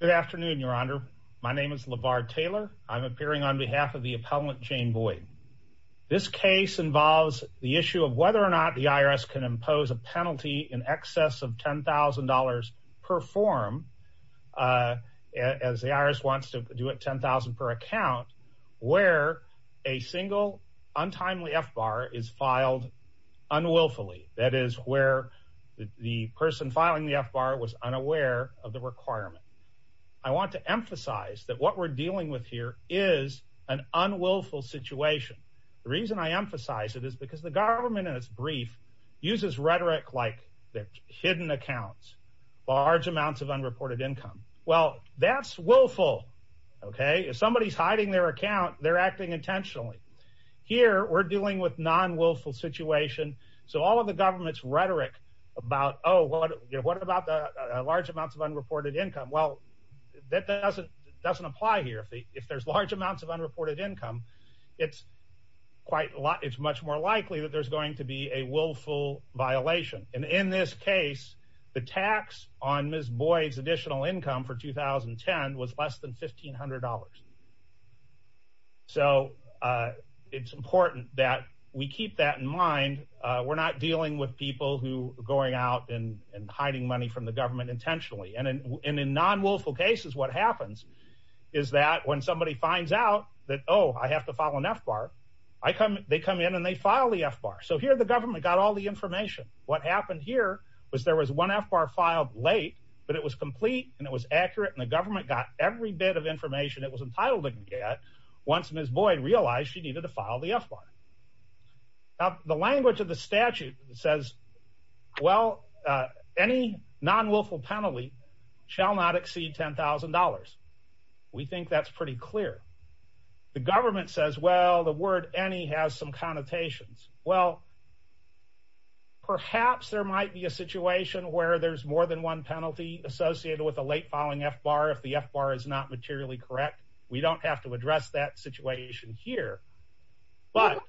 Good afternoon, Your Honor. My name is LeVar Taylor. I'm appearing on behalf of the appellant Jane Boyd. This case involves the issue of whether or not the IRS can impose a penalty in excess of $10,000 per form, as the IRS wants to do it, $10,000 per account, where a single untimely FBAR is filed unwillfully. That is where the person filing the FBAR was unaware of the requirement. I want to emphasize that what we're dealing with here is an unwillful situation. The reason I emphasize it is because the government, in its brief, uses rhetoric like hidden accounts, large amounts of unreported income. Well, that's willful, okay? If somebody's hiding their account, they're acting intentionally. Here, we're dealing with non-willful situation, all of the government's rhetoric about, oh, what about the large amounts of unreported income? Well, that doesn't apply here. If there's large amounts of unreported income, it's much more likely that there's going to be a willful violation. In this case, the tax on Ms. Boyd's income for 2010 was less than $1,500. It's important that we keep that in mind. We're not dealing with people who are going out and hiding money from the government intentionally. In non-willful cases, what happens is that when somebody finds out that, oh, I have to file an FBAR, they come in and they file the FBAR. Here, the government got all the information. What happened here was there was one FBAR filed late, but it was complete and it was accurate and the government got every bit of information it was entitled to get once Ms. Boyd realized she needed to file the FBAR. Now, the language of the statute says, well, any non-willful penalty shall not exceed $10,000. We think that's pretty clear. The government says, well, the word any has some connotations. Well, perhaps there might be a situation where there's more than one penalty associated with a late filing FBAR if the FBAR is not materially correct. We don't have to address that situation here, but...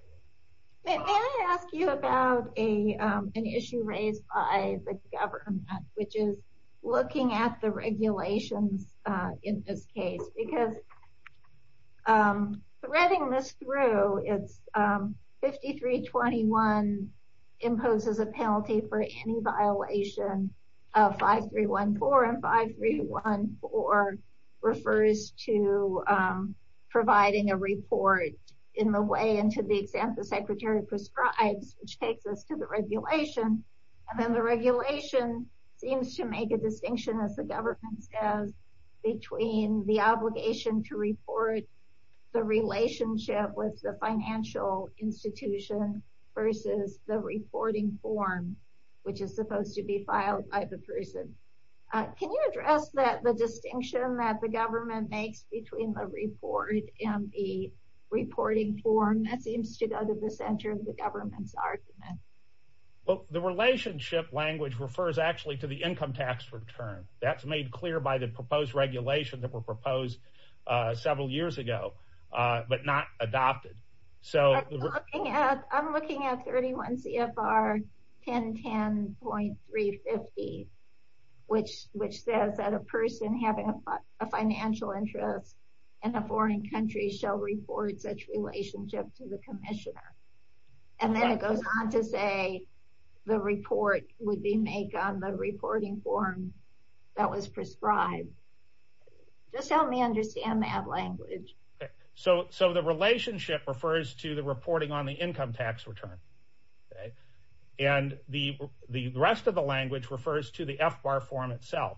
May I ask you about an issue raised by the government, which is looking at the regulations in this case, because threading this through, it's 5321 imposes a penalty for any violation of 5314, and 5314 refers to providing a report in the way into the extent the secretary prescribes, which takes us to the regulation, and then the regulation seems to make a distinction, as the government says, between the obligation to report the relationship with the financial institution versus the reporting form, which is supposed to be filed by the person. Can you address that, the distinction that the government makes between the report and the reporting form? That seems to go to the center of the government's argument. Well, the relationship language refers actually to the income tax return. That's made clear by the proposed regulation that were proposed several years ago, but not adopted, so... I'm looking at 31 CFR 1010.350, which says that a person having a financial interest in a foreign country shall report such relationship to the commissioner, and then it goes on to say the report would be made on the reporting form that was prescribed. Just help me understand that language. So the relationship refers to the reporting on the income tax return, and the rest of the language refers to the FBAR form itself.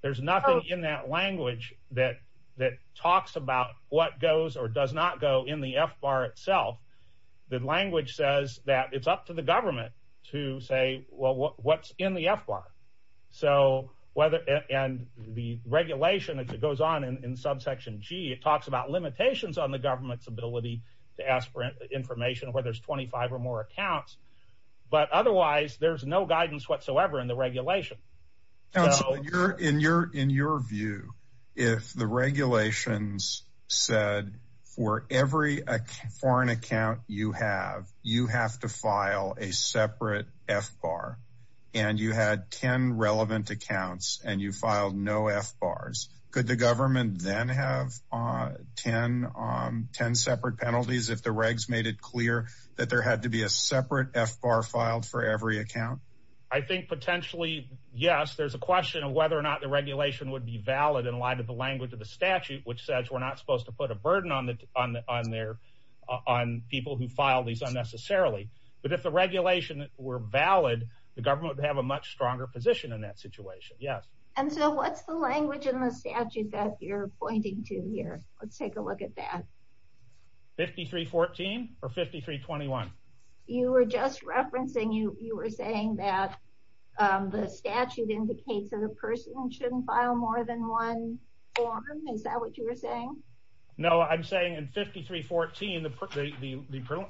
There's nothing in that language that talks about what goes or does not go in the FBAR itself, the language says that it's up to the government to say, well, what's in the FBAR? And the regulation, as it goes on in subsection G, it talks about limitations on the government's ability to ask for information where there's 25 or more accounts. But otherwise, there's no guidance whatsoever in the regulation. In your view, if the regulations said for every foreign account you have, you have to file a separate FBAR, and you had 10 relevant accounts and you filed no FBARs, could the government then have 10 separate penalties if the regs made it clear that there had to be a separate FBAR filed for every account? I think potentially, yes, there's a question of whether or not the regulation would be valid in the language of the statute, which says we're not supposed to put a burden on people who file these unnecessarily. But if the regulation were valid, the government would have a much stronger position in that situation, yes. And so what's the language in the statute that you're pointing to here? Let's take a look at that. 5314 or 5321? You were just referencing, you were saying that the statute indicates that a person shouldn't file more than one form. Is that what you were saying? No, I'm saying in 5314,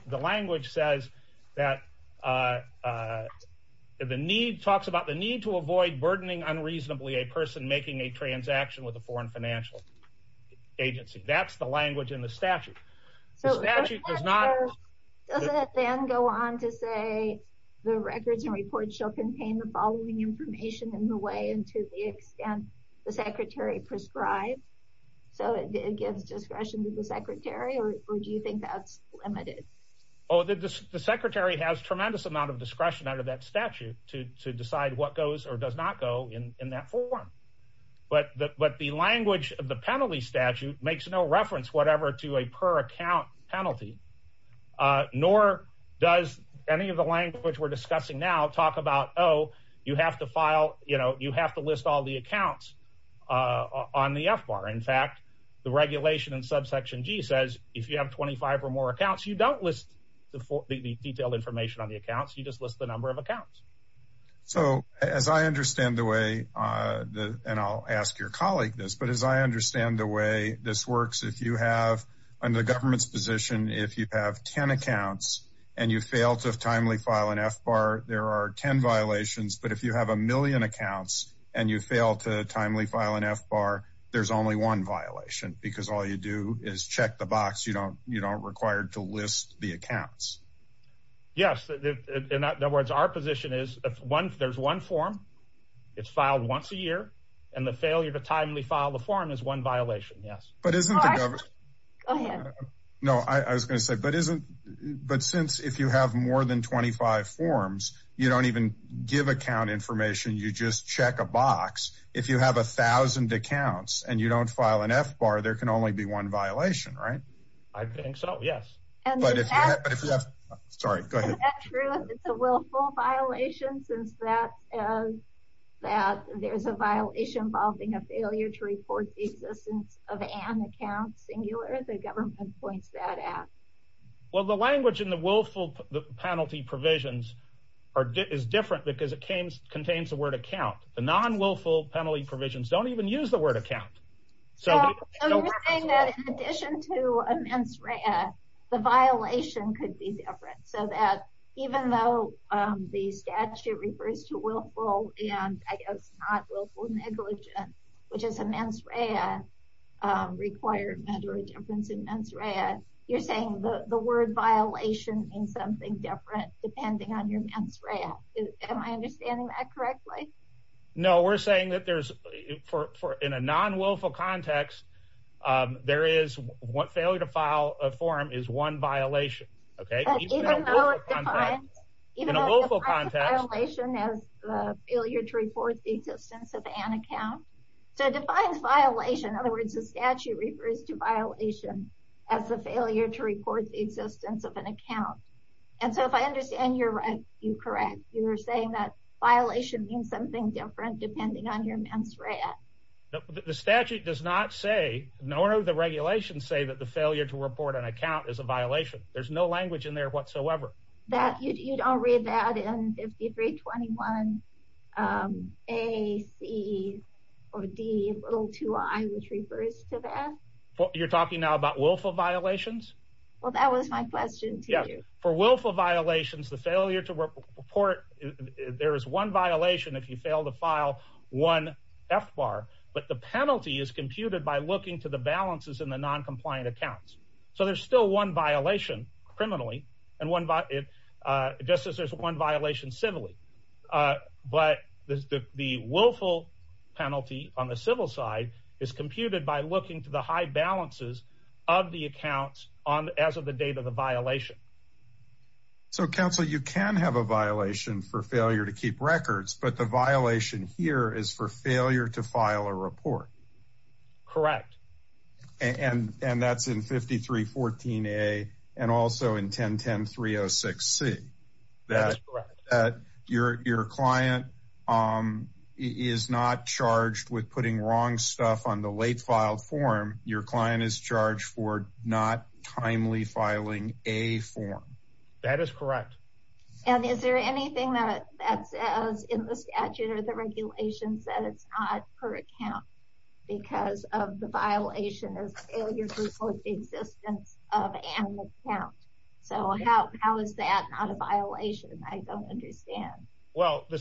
the language says that the need talks about the need to avoid burdening unreasonably a person making a transaction with a foreign financial agency. That's the language in the statute. Does it then go on to say the records and reports shall contain the following information in the way and to the extent the secretary prescribed? So it gives discretion to the secretary, or do you think that's limited? Oh, the secretary has tremendous amount of discretion under that statute to decide what goes or does not go in that form. But the language of the penalty statute makes no reference whatever to a per account penalty, nor does any of the language we're discussing now talk about, oh, you have to file, you know, you have to list all the accounts on the F-bar. In fact, the regulation in subsection G says, if you have 25 or more accounts, you don't list the detailed information on the accounts, you just list the number of accounts. So as I understand the way, and I'll ask your colleague this, but as I understand the way this works, if you have, under the government's position, if you have 10 accounts and you fail to timely file an F-bar, there are 10 violations. But if you have a million accounts and you fail to timely file an F-bar, there's only one violation, because all you do is check the box. You don't require to list the accounts. Yes. In other words, our position is one, there's one form, it's filed once a year, and the failure to timely file the form is one violation. Yes. But isn't the government, no, I was going to say, but isn't, but since if you have more than 25 forms, you don't even give account information, you just check a box. If you have 1000 accounts and you don't file an F-bar, there can only be one violation, since there's a violation involving a failure to report the existence of an account, singular, the government points that out. Well, the language in the willful penalty provisions is different because it contains the word account. The non-willful penalty provisions don't even use the word account. So I'm saying that in addition to mens rea, the violation could be different. So that even though the statute refers to willful and I guess not willful negligence, which is a mens rea requirement or a difference in mens rea, you're saying the word violation means something different depending on your mens rea. Am I understanding that correctly? No, we're saying that there's, for in a non-willful context, there is one failure to file a form is one violation. Okay. In a willful context, violation as a failure to report the existence of an account. So it defines violation. In other words, the statute refers to violation as a failure to report the existence of an account. And so if I understand you're right, you're correct. You're saying that violation means something different depending on your mens rea. The statute does not say, nor do the regulations say that the failure to report an account is a violation. There's no language in there whatsoever. You don't read that in 5321 A, C, or D, little two I, which refers to that? You're talking now about willful violations? Well, that was my question to you. For willful violations, the failure to report, there is one violation if you fail to file one F-bar, but the penalty is computed by looking to the balances in the non-compliant accounts. So there's still one violation criminally, and just as there's one violation civilly, but the willful penalty on the civil side is computed by looking to the high balances of the accounts as of the date of the violation. So counsel, you can have a violation for failure to keep records, but the violation here is for failure to file a report. Correct. And that's in 5314 A and also in 1010-306 C. That is correct. That your client is not charged with putting wrong stuff on the late filed form. Your client is charged for not timely filing a form. That is correct. And is there anything that says in the statute or the regulations that it's not per account because of the violation of failure to report the existence of an account? So how is that not a violation? I don't understand. Well, the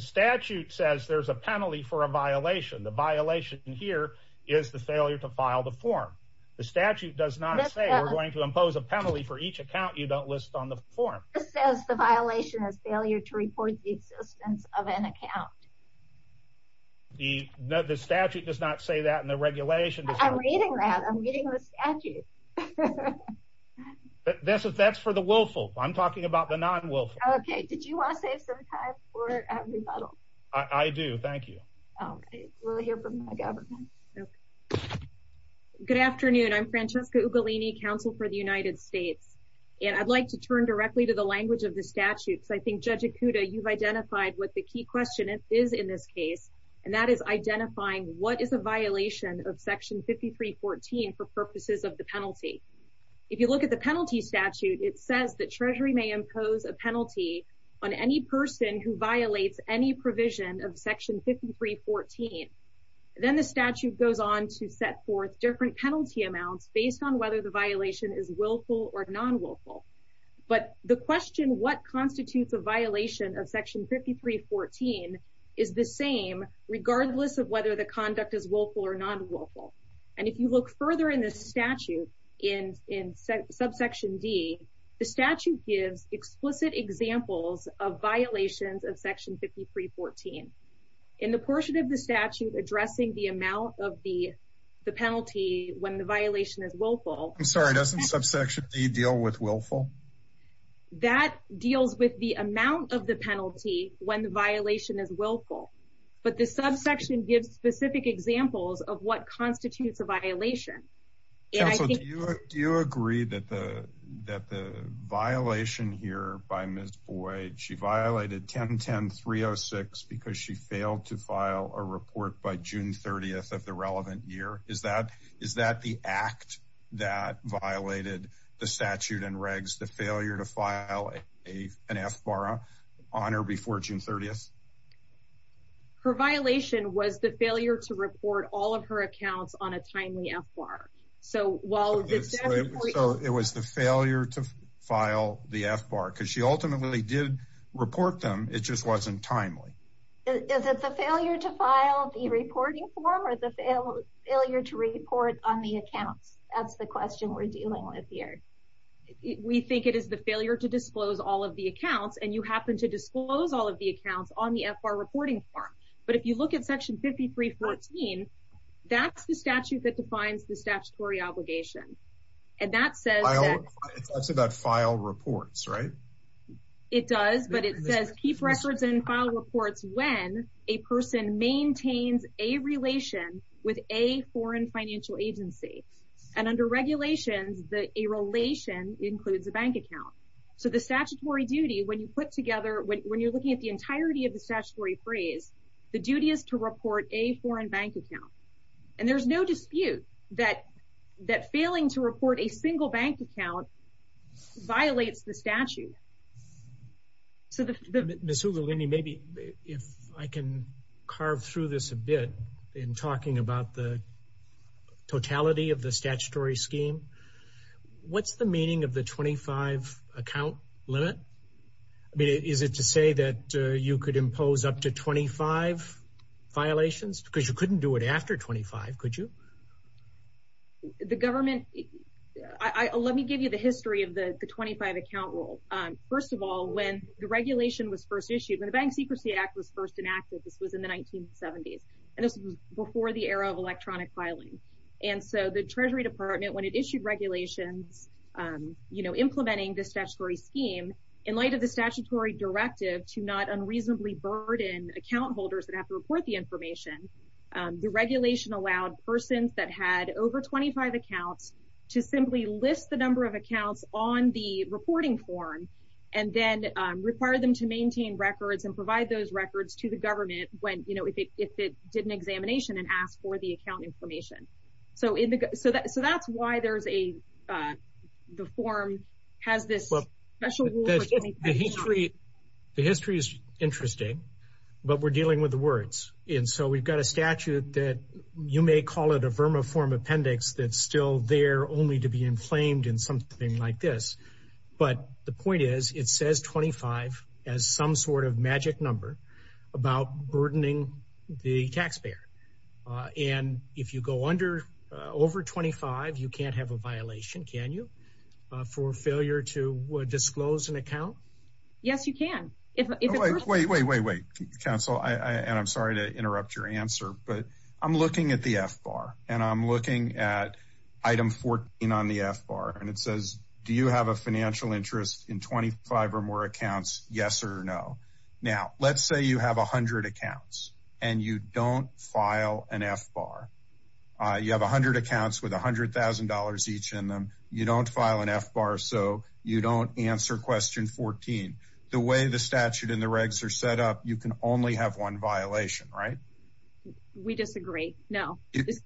statute says there's a penalty for a violation. The violation here is the failure to file the form. The statute does not say we're going to impose a penalty for each account you don't list on the form. It says the violation is failure to report the existence of an account. The statute does not say that in the regulation. I'm reading that. I'm reading the statute. That's for the willful. I'm talking about the non-willful. Okay. Did you want to save some time for a rebuttal? I do. Thank you. Okay. We'll hear from the government. Good afternoon. I'm Francesca Ugolini, counsel for the United States. And I'd like to turn directly to the language of the statutes. I think Judge Ikuda, you've identified what the key question is in this case. And that is identifying what is a violation of Section 5314 for purposes of the penalty. If you look at the penalty statute, it says that Treasury may impose a penalty on any person who violates any provision of Section 5314. Then the statute goes on to set forth different penalty amounts based on whether the violation is willful or non-willful. But the question what constitutes a violation of Section 5314 is the same regardless of whether the conduct is willful or non-willful. And if you look further in this statute in subsection D, the statute gives explicit examples of violations of Section 5314. In the portion of the statute addressing the amount of the penalty when the violation is willful. I'm sorry, doesn't subsection D deal with willful? That deals with the amount of the penalty when the violation is willful. But the subsection gives specific examples of what constitutes a violation. Counsel, do you agree that the violation here by Ms. Boyd, she violated 1010-306 because she failed to file a report by June 30th of the relevant year? Is that the act that violated the statute and regs, the failure to file an FBARA on her before June 30th? Her violation was the failure to report all of her accounts on a timely FBARA. So, it was the failure to file the FBARA because she ultimately did report them, it just wasn't timely. Is it the failure to file the reporting form or the failure to report on the accounts? That's the question we're dealing with here. We think it is the failure to disclose all of the accounts and you happen to disclose all of the FBARA reporting form. But if you look at section 53-14, that's the statute that defines the statutory obligation. And that says- I said that file reports, right? It does, but it says keep records and file reports when a person maintains a relation with a foreign financial agency. And under regulations, a relation includes a bank account. So, the statutory duty, when you put together- when you're looking at the entirety of the statutory phrase, the duty is to report a foreign bank account. And there's no dispute that failing to report a single bank account violates the statute. So, Ms. Hugalini, maybe if I can carve through this a bit in talking about the statutory scheme, what's the meaning of the 25-account limit? I mean, is it to say that you could impose up to 25 violations? Because you couldn't do it after 25, could you? The government- let me give you the history of the 25-account rule. First of all, when the regulation was first issued, when the Bank Secrecy Act was first enacted, this was in the 1970s. And this was before the era of electronic filing. And so, the Treasury Department, when it issued regulations, you know, implementing this statutory scheme, in light of the statutory directive to not unreasonably burden account holders that have to report the information, the regulation allowed persons that had over 25 accounts to simply list the number of accounts on the reporting form and then require them to maintain records and provide those records to government when, you know, if it did an examination and asked for the account information. So, that's why there's a- the form has this special rule. The history is interesting, but we're dealing with the words. And so, we've got a statute that you may call it a verma form appendix that's still there only to be inflamed in something like this. But the point is, it says 25 as some sort of magic number about burdening the taxpayer. And if you go under- over 25, you can't have a violation, can you, for failure to disclose an account? Yes, you can. Wait, wait, wait, wait, counsel. And I'm sorry to interrupt your answer, but I'm looking at the F-bar and I'm looking at item 14 on the F-bar and it says, do you have a financial interest in 25 or more accounts, yes or no? Now, let's say you have 100 accounts and you don't file an F-bar. You have 100 accounts with $100,000 each in them. You don't file an F-bar, so you don't answer question 14. The way the statute and the regs are set up, you can only have one violation, right? We disagree, no.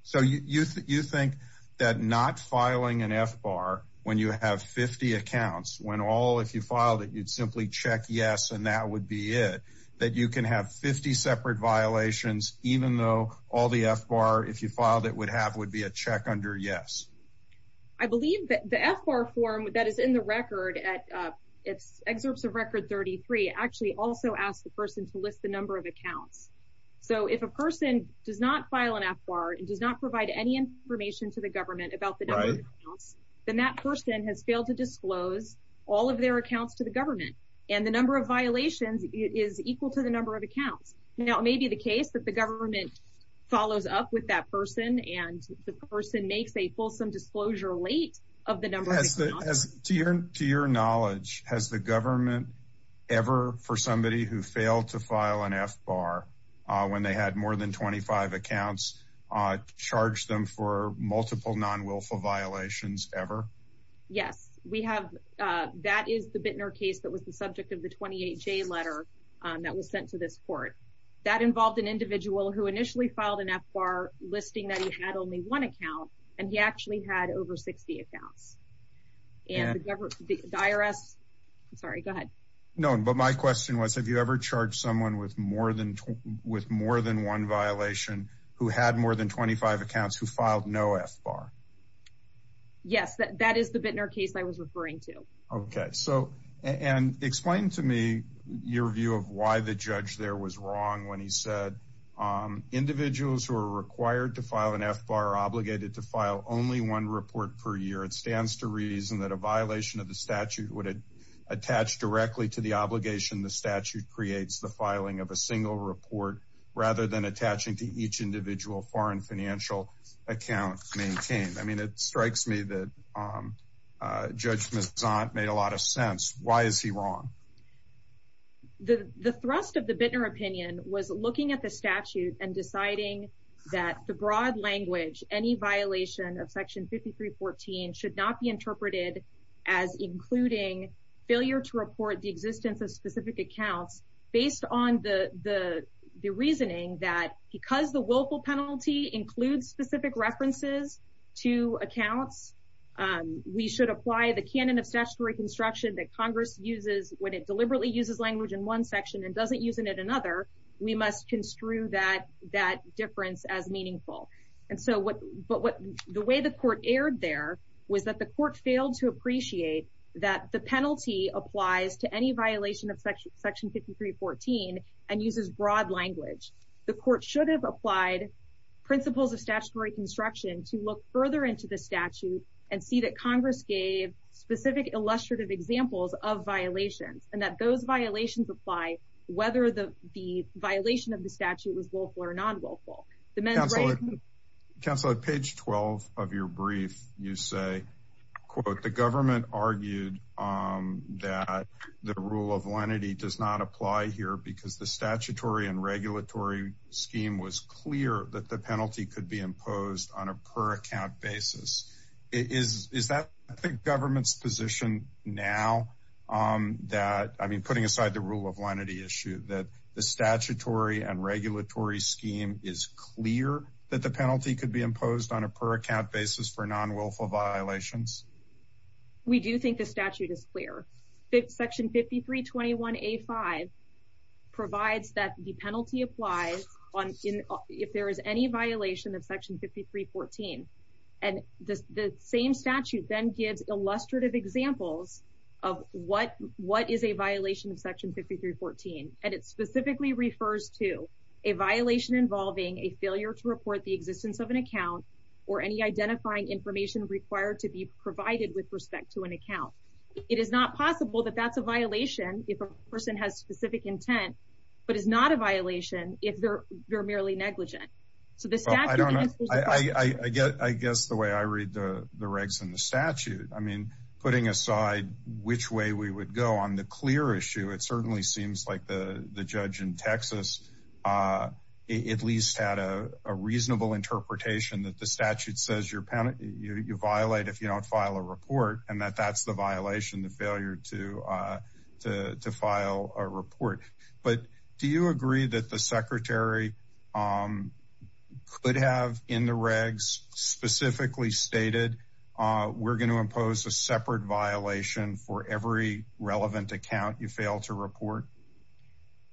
So, you think that not filing an F-bar when you have 50 accounts, when all, if you filed it, you'd simply check yes and that would be it, that you can have 50 separate violations even though all the F-bar, if you filed it, would have- would be a check under yes? I believe that the F-bar form that is in the record at- it's excerpts of record 33 actually also asks the person to list the number of accounts. So, if a person does not file an F-bar and does not provide any information to the government about the number of accounts, then that person has failed to disclose all of their accounts to the government and the number of violations is equal to the number of accounts. Now, it may be the case that the government follows up with that person and the person makes a fulsome disclosure late of the number. To your knowledge, has the government ever, for somebody who failed to file an F-bar when they had more than 25 accounts, charged them for multiple non-wilful violations ever? Yes, we have. That is the Bittner case that was the subject of the 28-J letter that was sent to this court. That involved an individual who initially filed an F-bar listing that he had only one account and he actually had over 60 accounts. And the government, the IRS- I'm sorry, go ahead. No, but my question was, have you ever charged someone with more than one violation who had more than 25 accounts who filed no F-bar? Yes, that is the Bittner case I was referring to. Okay, so, and explain to me your view of why the judge there was wrong when he said individuals who are required to file an F-bar are obligated to file only one report per year. It stands to reason that a violation of the statute would attach directly to the obligation the statute creates, the filing of a single report, rather than attaching to each individual foreign financial account maintained. I mean, it strikes me that Judge Mezant made a lot of sense. Why is he wrong? The thrust of the Bittner opinion was looking at the statute and deciding that the broad language, any violation of Section 5314 should not be interpreted as including failure to report the existence of specific accounts based on the reasoning that because the willful penalty includes specific references to accounts, we should apply the canon of statutory construction that Congress uses when it deliberately uses language in one section and as meaningful. And so, but the way the court erred there was that the court failed to appreciate that the penalty applies to any violation of Section 5314 and uses broad language. The court should have applied principles of statutory construction to look further into the statute and see that Congress gave specific illustrative examples of violations and that violations apply whether the violation of the statute was willful or non-willful. Counselor, at page 12 of your brief, you say, quote, the government argued that the rule of lenity does not apply here because the statutory and regulatory scheme was clear that the penalty could be imposed on a per account basis. Is that the government's position now that, putting aside the rule of lenity issue, that the statutory and regulatory scheme is clear that the penalty could be imposed on a per account basis for non-willful violations? We do think the statute is clear. Section 5321A5 provides that the penalty applies if there is any violation of Section 5314. And the same statute then gives illustrative examples of what is a violation of Section 5314. And it specifically refers to a violation involving a failure to report the existence of an account or any identifying information required to be provided with respect to an account. It is not possible that that's a violation if a person has specific intent, but it's not a violation if they're merely negligent. I guess the way I read the regs in the statute, I mean, putting aside which way we would go on the clear issue, it certainly seems like the judge in Texas at least had a reasonable interpretation that the statute says you violate if you don't file a report and that that's the violation, the failure to file a report. But do you agree that the secretary could have in the regs specifically stated we're going to impose a separate violation for every relevant account you fail to report?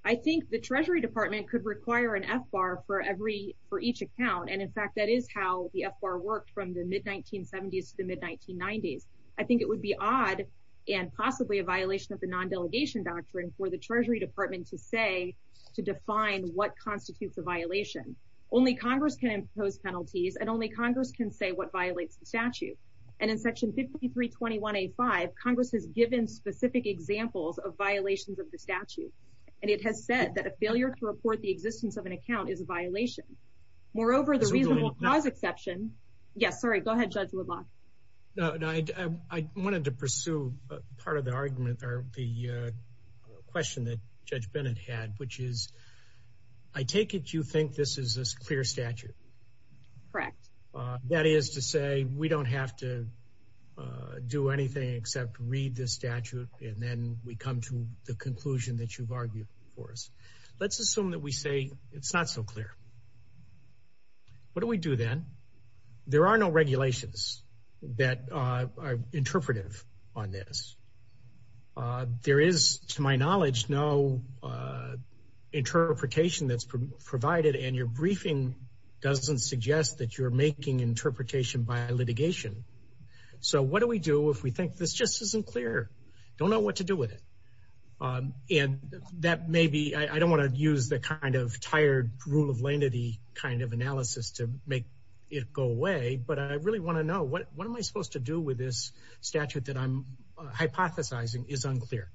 I think the Treasury Department could require an FBAR for each account. And in fact, that is how the FBAR worked from the mid-1970s to the mid-1990s. I think it would be odd and possibly a violation of the non-delegation doctrine for the Treasury Department to say, to define what constitutes a violation. Only Congress can impose penalties and only Congress can say what violates the statute. And in Section 5321A5, Congress has given specific examples of violations of the statute. And it has said that a failure to report the existence of an account is a violation. Moreover, the reasonable cause exception. Yes, sorry. Go ahead, Judge Woodlock. No, I wanted to pursue part of the argument or the question that Judge Bennett had, which is, I take it you think this is a clear statute? Correct. That is to say, we don't have to do anything except read the statute and then we come to the conclusion that you've argued for us. Let's assume that we say it's not so clear. What do we do then? There are no regulations that are interpretive on this. There is, to my knowledge, no interpretation that's provided and your briefing doesn't suggest that you're making interpretation by litigation. So what do we do if we think this just isn't clear? Don't know what to do with it. And that may be, I don't want to use the kind of tired rule of lenity kind of analysis to make it go away, but I really want to know, what am I supposed to do with this statute that I'm hypothesizing is unclear?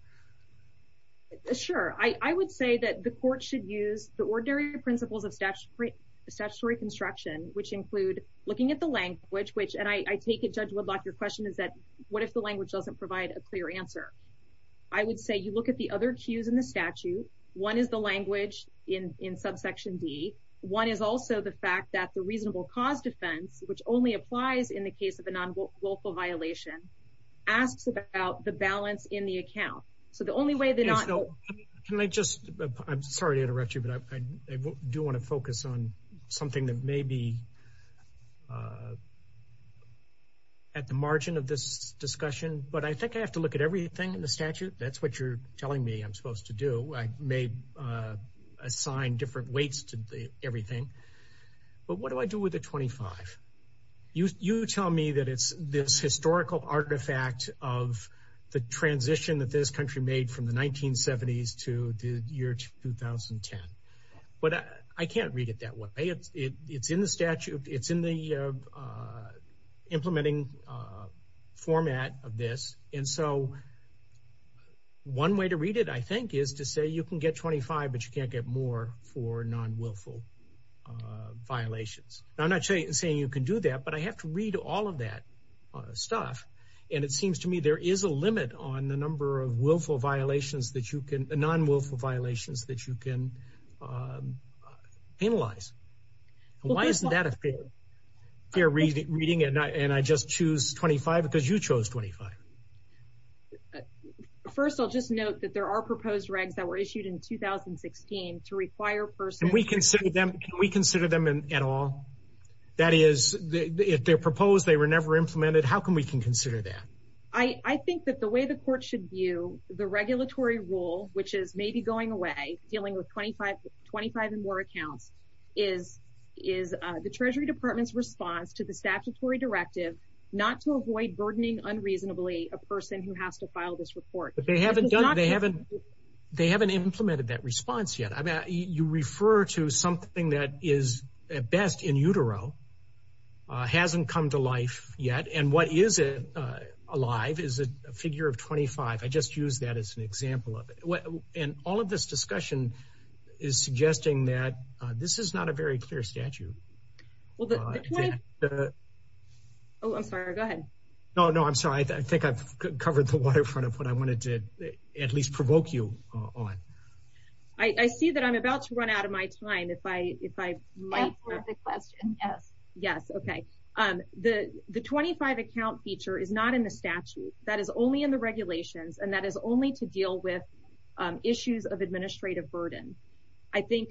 Sure. I would say that the court should use the ordinary principles of statutory construction, which include looking at the language, which, and I take it, Judge Woodlock, your question is that, what if the language doesn't provide a clear answer? I would say you look at the other cues in the statute. One is the language in subsection D. One is also the fact that the reasonable cause defense, which only applies in the case of a non-willful violation, asks about the balance in the account. So the only way that not- Okay, so can I just, I'm sorry to interrupt you, but I do want to focus on something that may be at the margin of this discussion, but I think I have to look at everything in the statute. That's you're telling me I'm supposed to do. I may assign different weights to everything, but what do I do with the 25? You tell me that it's this historical artifact of the transition that this country made from the 1970s to the year 2010, but I can't read it that way. It's in the implementing format of this, and so one way to read it, I think, is to say you can get 25, but you can't get more for non-willful violations. I'm not saying you can do that, but I have to read all of that stuff, and it seems to me there is a limit on the number of non-willful violations that you can penalize. Why isn't that a fair reading, and I just choose 25 because you chose 25? First, I'll just note that there are proposed regs that were issued in 2016 to require persons- Can we consider them at all? That is, if they're proposed, they were never implemented. How can we consider that? I think that the way the court should view the regulatory rule, which is maybe going away, dealing with 25 and more accounts, is the Treasury Department's response to the statutory directive not to avoid burdening unreasonably a person who has to file this report. They haven't implemented that response yet. You refer to something that is at best in utero, hasn't come to life yet, and what is alive is a figure of 25. I just use that as an example of it, and all of this discussion is suggesting that this is not a very clear statute. Oh, I'm sorry. Go ahead. No, no, I'm sorry. I think I've covered the waterfront of what I wanted to at least provoke you on. I see that I'm about to run out of my time. If I might have the question. Yes. Yes, okay. The 25 account feature is not in the statute. That is only in the regulations, and that is only to deal with issues of administrative burden. I think,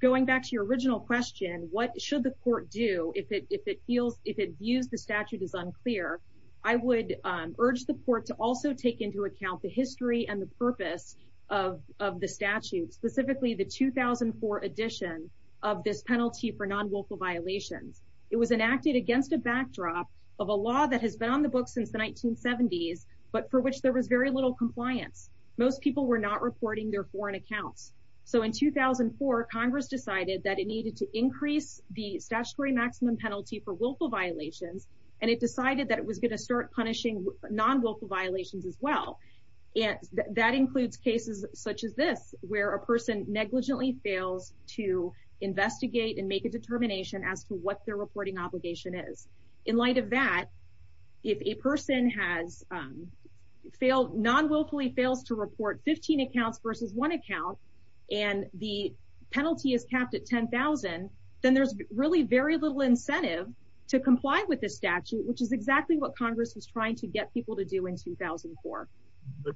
going back to your original question, what should the court do if it views the statute as unclear? I would urge the court to also take into account the history and the purpose of the statute, specifically the 2004 edition of this penalty for non-willful violations. It was enacted against a backdrop of a law that has been on the books since the 1970s, but for which there was very little compliance. Most people were not reporting their foreign accounts. In 2004, Congress decided that it needed to increase the statutory maximum penalty for willful violations, and it decided that it was going to start punishing non-willful violations as well. That includes cases such as this, where a person negligently fails to investigate and make a determination as to their reporting obligation. In light of that, if a person non-willfully fails to report 15 accounts versus one account, and the penalty is capped at $10,000, then there is very little incentive to comply with the statute, which is exactly what Congress was trying to get people to do in 2004.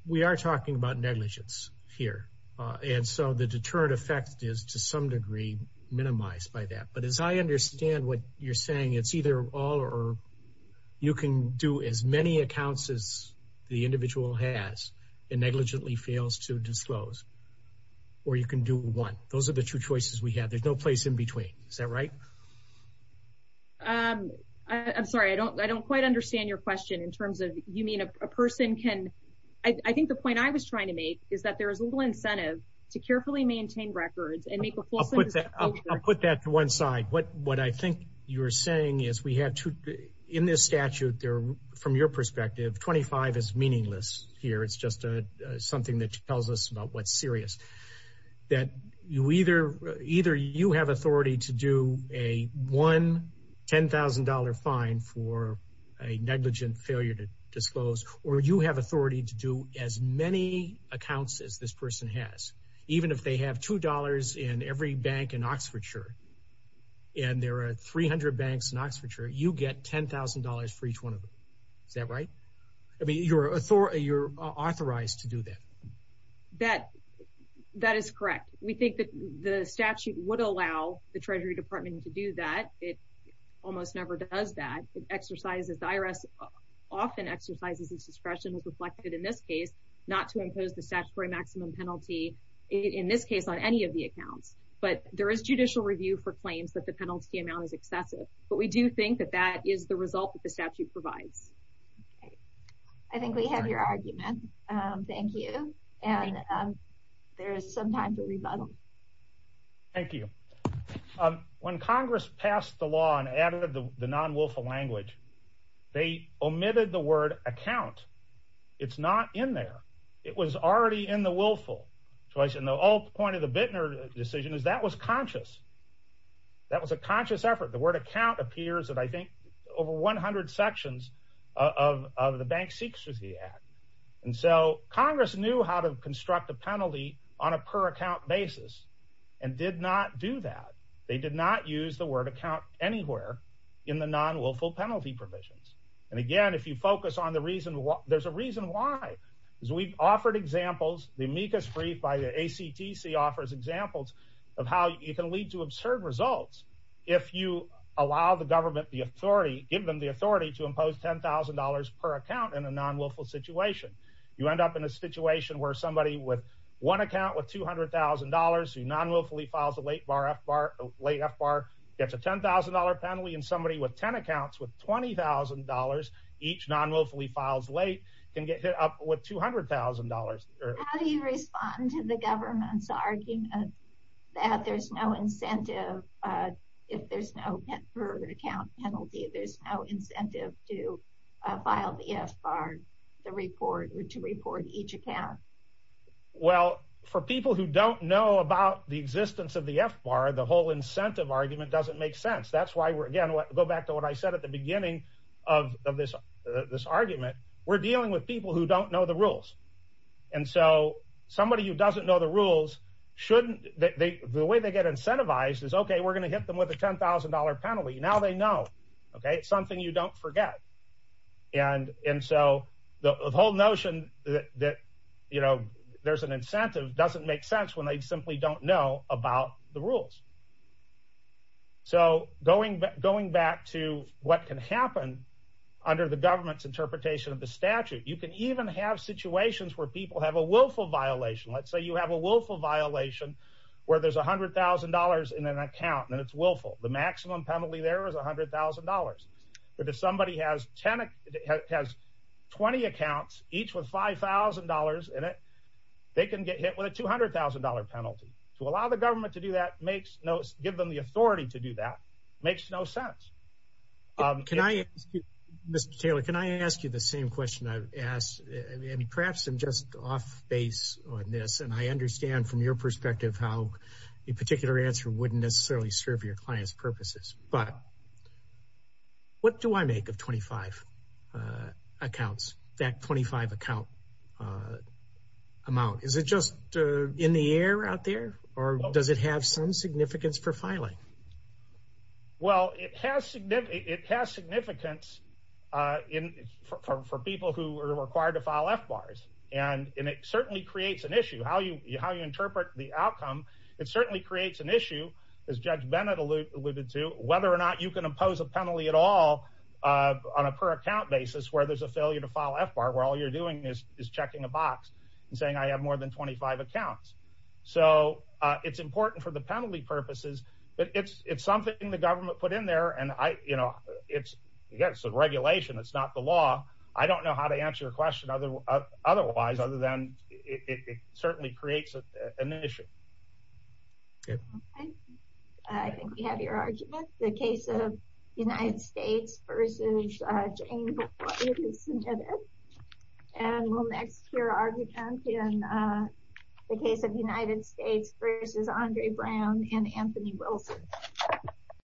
We are talking about negligence here, so the deterrent effect is, to some degree, minimized by that. But as I understand what you're saying, it's either all or you can do as many accounts as the individual has and negligently fails to disclose, or you can do one. Those are the two choices we have. There's no place in between. Is that right? I'm sorry. I don't quite understand your question in terms of you mean a person can... I think the point I was trying to make is that there is a little incentive to carefully maintain records and make a full... I'll put that to one side. What I think you're saying is, in this statute, from your perspective, 25 is meaningless here. It's just something that tells us about what's serious. Either you have authority to do a one $10,000 fine for a negligent failure to disclose, or you have authority to do as many accounts as this person has. Even if they have $2 in every bank in Oxfordshire, and there are 300 banks in Oxfordshire, you get $10,000 for each one of them. Is that right? I mean, you're authorized to do that. That is correct. We think that the statute would allow the Treasury Department to do that. It almost never does that. The IRS often exercises its discretion, as reflected in this case, not to impose the statutory maximum penalty, in this case, on any of the accounts. But there is judicial review for claims that the penalty amount is excessive. But we do think that that is the result that the statute provides. I think we have your argument. Thank you. There is some time for rebuttal. Thank you. When Congress passed the law and added the word account, it's not in there. It was already in the willful. The point of the Bittner decision is that was conscious. That was a conscious effort. The word account appears in, I think, over 100 sections of the Bank Secrecy Act. Congress knew how to construct a penalty on a per-account basis, and did not do that. They did not use the word account anywhere in the reason. There is a reason why. We offered examples. The amicus brief by the ACTC offers examples of how you can lead to absurd results if you allow the government the authority, give them the authority, to impose $10,000 per account in a non-willful situation. You end up in a situation where somebody with one account with $200,000, who non-willfully files a late FBAR, gets a $10,000 penalty, and somebody with 10 accounts with $20,000, each non-willfully files late, can get hit up with $200,000. How do you respond to the government's argument that there's no incentive, if there's no per-account penalty, there's no incentive to FBAR, to report each account? For people who don't know about the existence of the FBAR, the whole incentive argument doesn't make sense. That's why we're, again, going back to what I said at the beginning of this argument, we're dealing with people who don't know the rules. Somebody who doesn't know the rules, the way they get incentivized is, okay, we're going to hit them with a $10,000 penalty. Now they know. It's something you don't forget. The whole notion that there's an incentive doesn't make sense when they simply don't know about the rules. Going back to what can happen under the government's interpretation of the statute, you can even have situations where people have a willful violation. Let's say you have a willful violation where there's $100,000 in an account, and it's willful. The has 20 accounts, each with $5,000 in it, they can get hit with a $200,000 penalty. To allow the government to do that, give them the authority to do that, makes no sense. Mr. Taylor, can I ask you the same question I've asked? Perhaps I'm just off base on this, and I understand from your perspective how a particular answer wouldn't necessarily serve your client's purposes, but what do I make of 25 accounts, that 25 account amount? Is it just in the air out there, or does it have some significance for filing? Well, it has significance for people who are required to file FBARs, and it certainly creates an issue. How you interpret the outcome, it certainly creates an issue, as Judge Bennett alluded to, whether or not you can impose a penalty at all on a per-account basis where there's a failure to file FBAR, where all you're doing is checking a box and saying, I have more than 25 accounts. It's important for the penalty purposes, but it's something the government put in there. It's a regulation, it's not the law. I don't know how to answer your question otherwise, other than it certainly creates an issue. I think we have your argument. The case of United States versus James White is submitted, and we'll next hear argument in the case of United States versus Andre Brown and Anthony Wilson.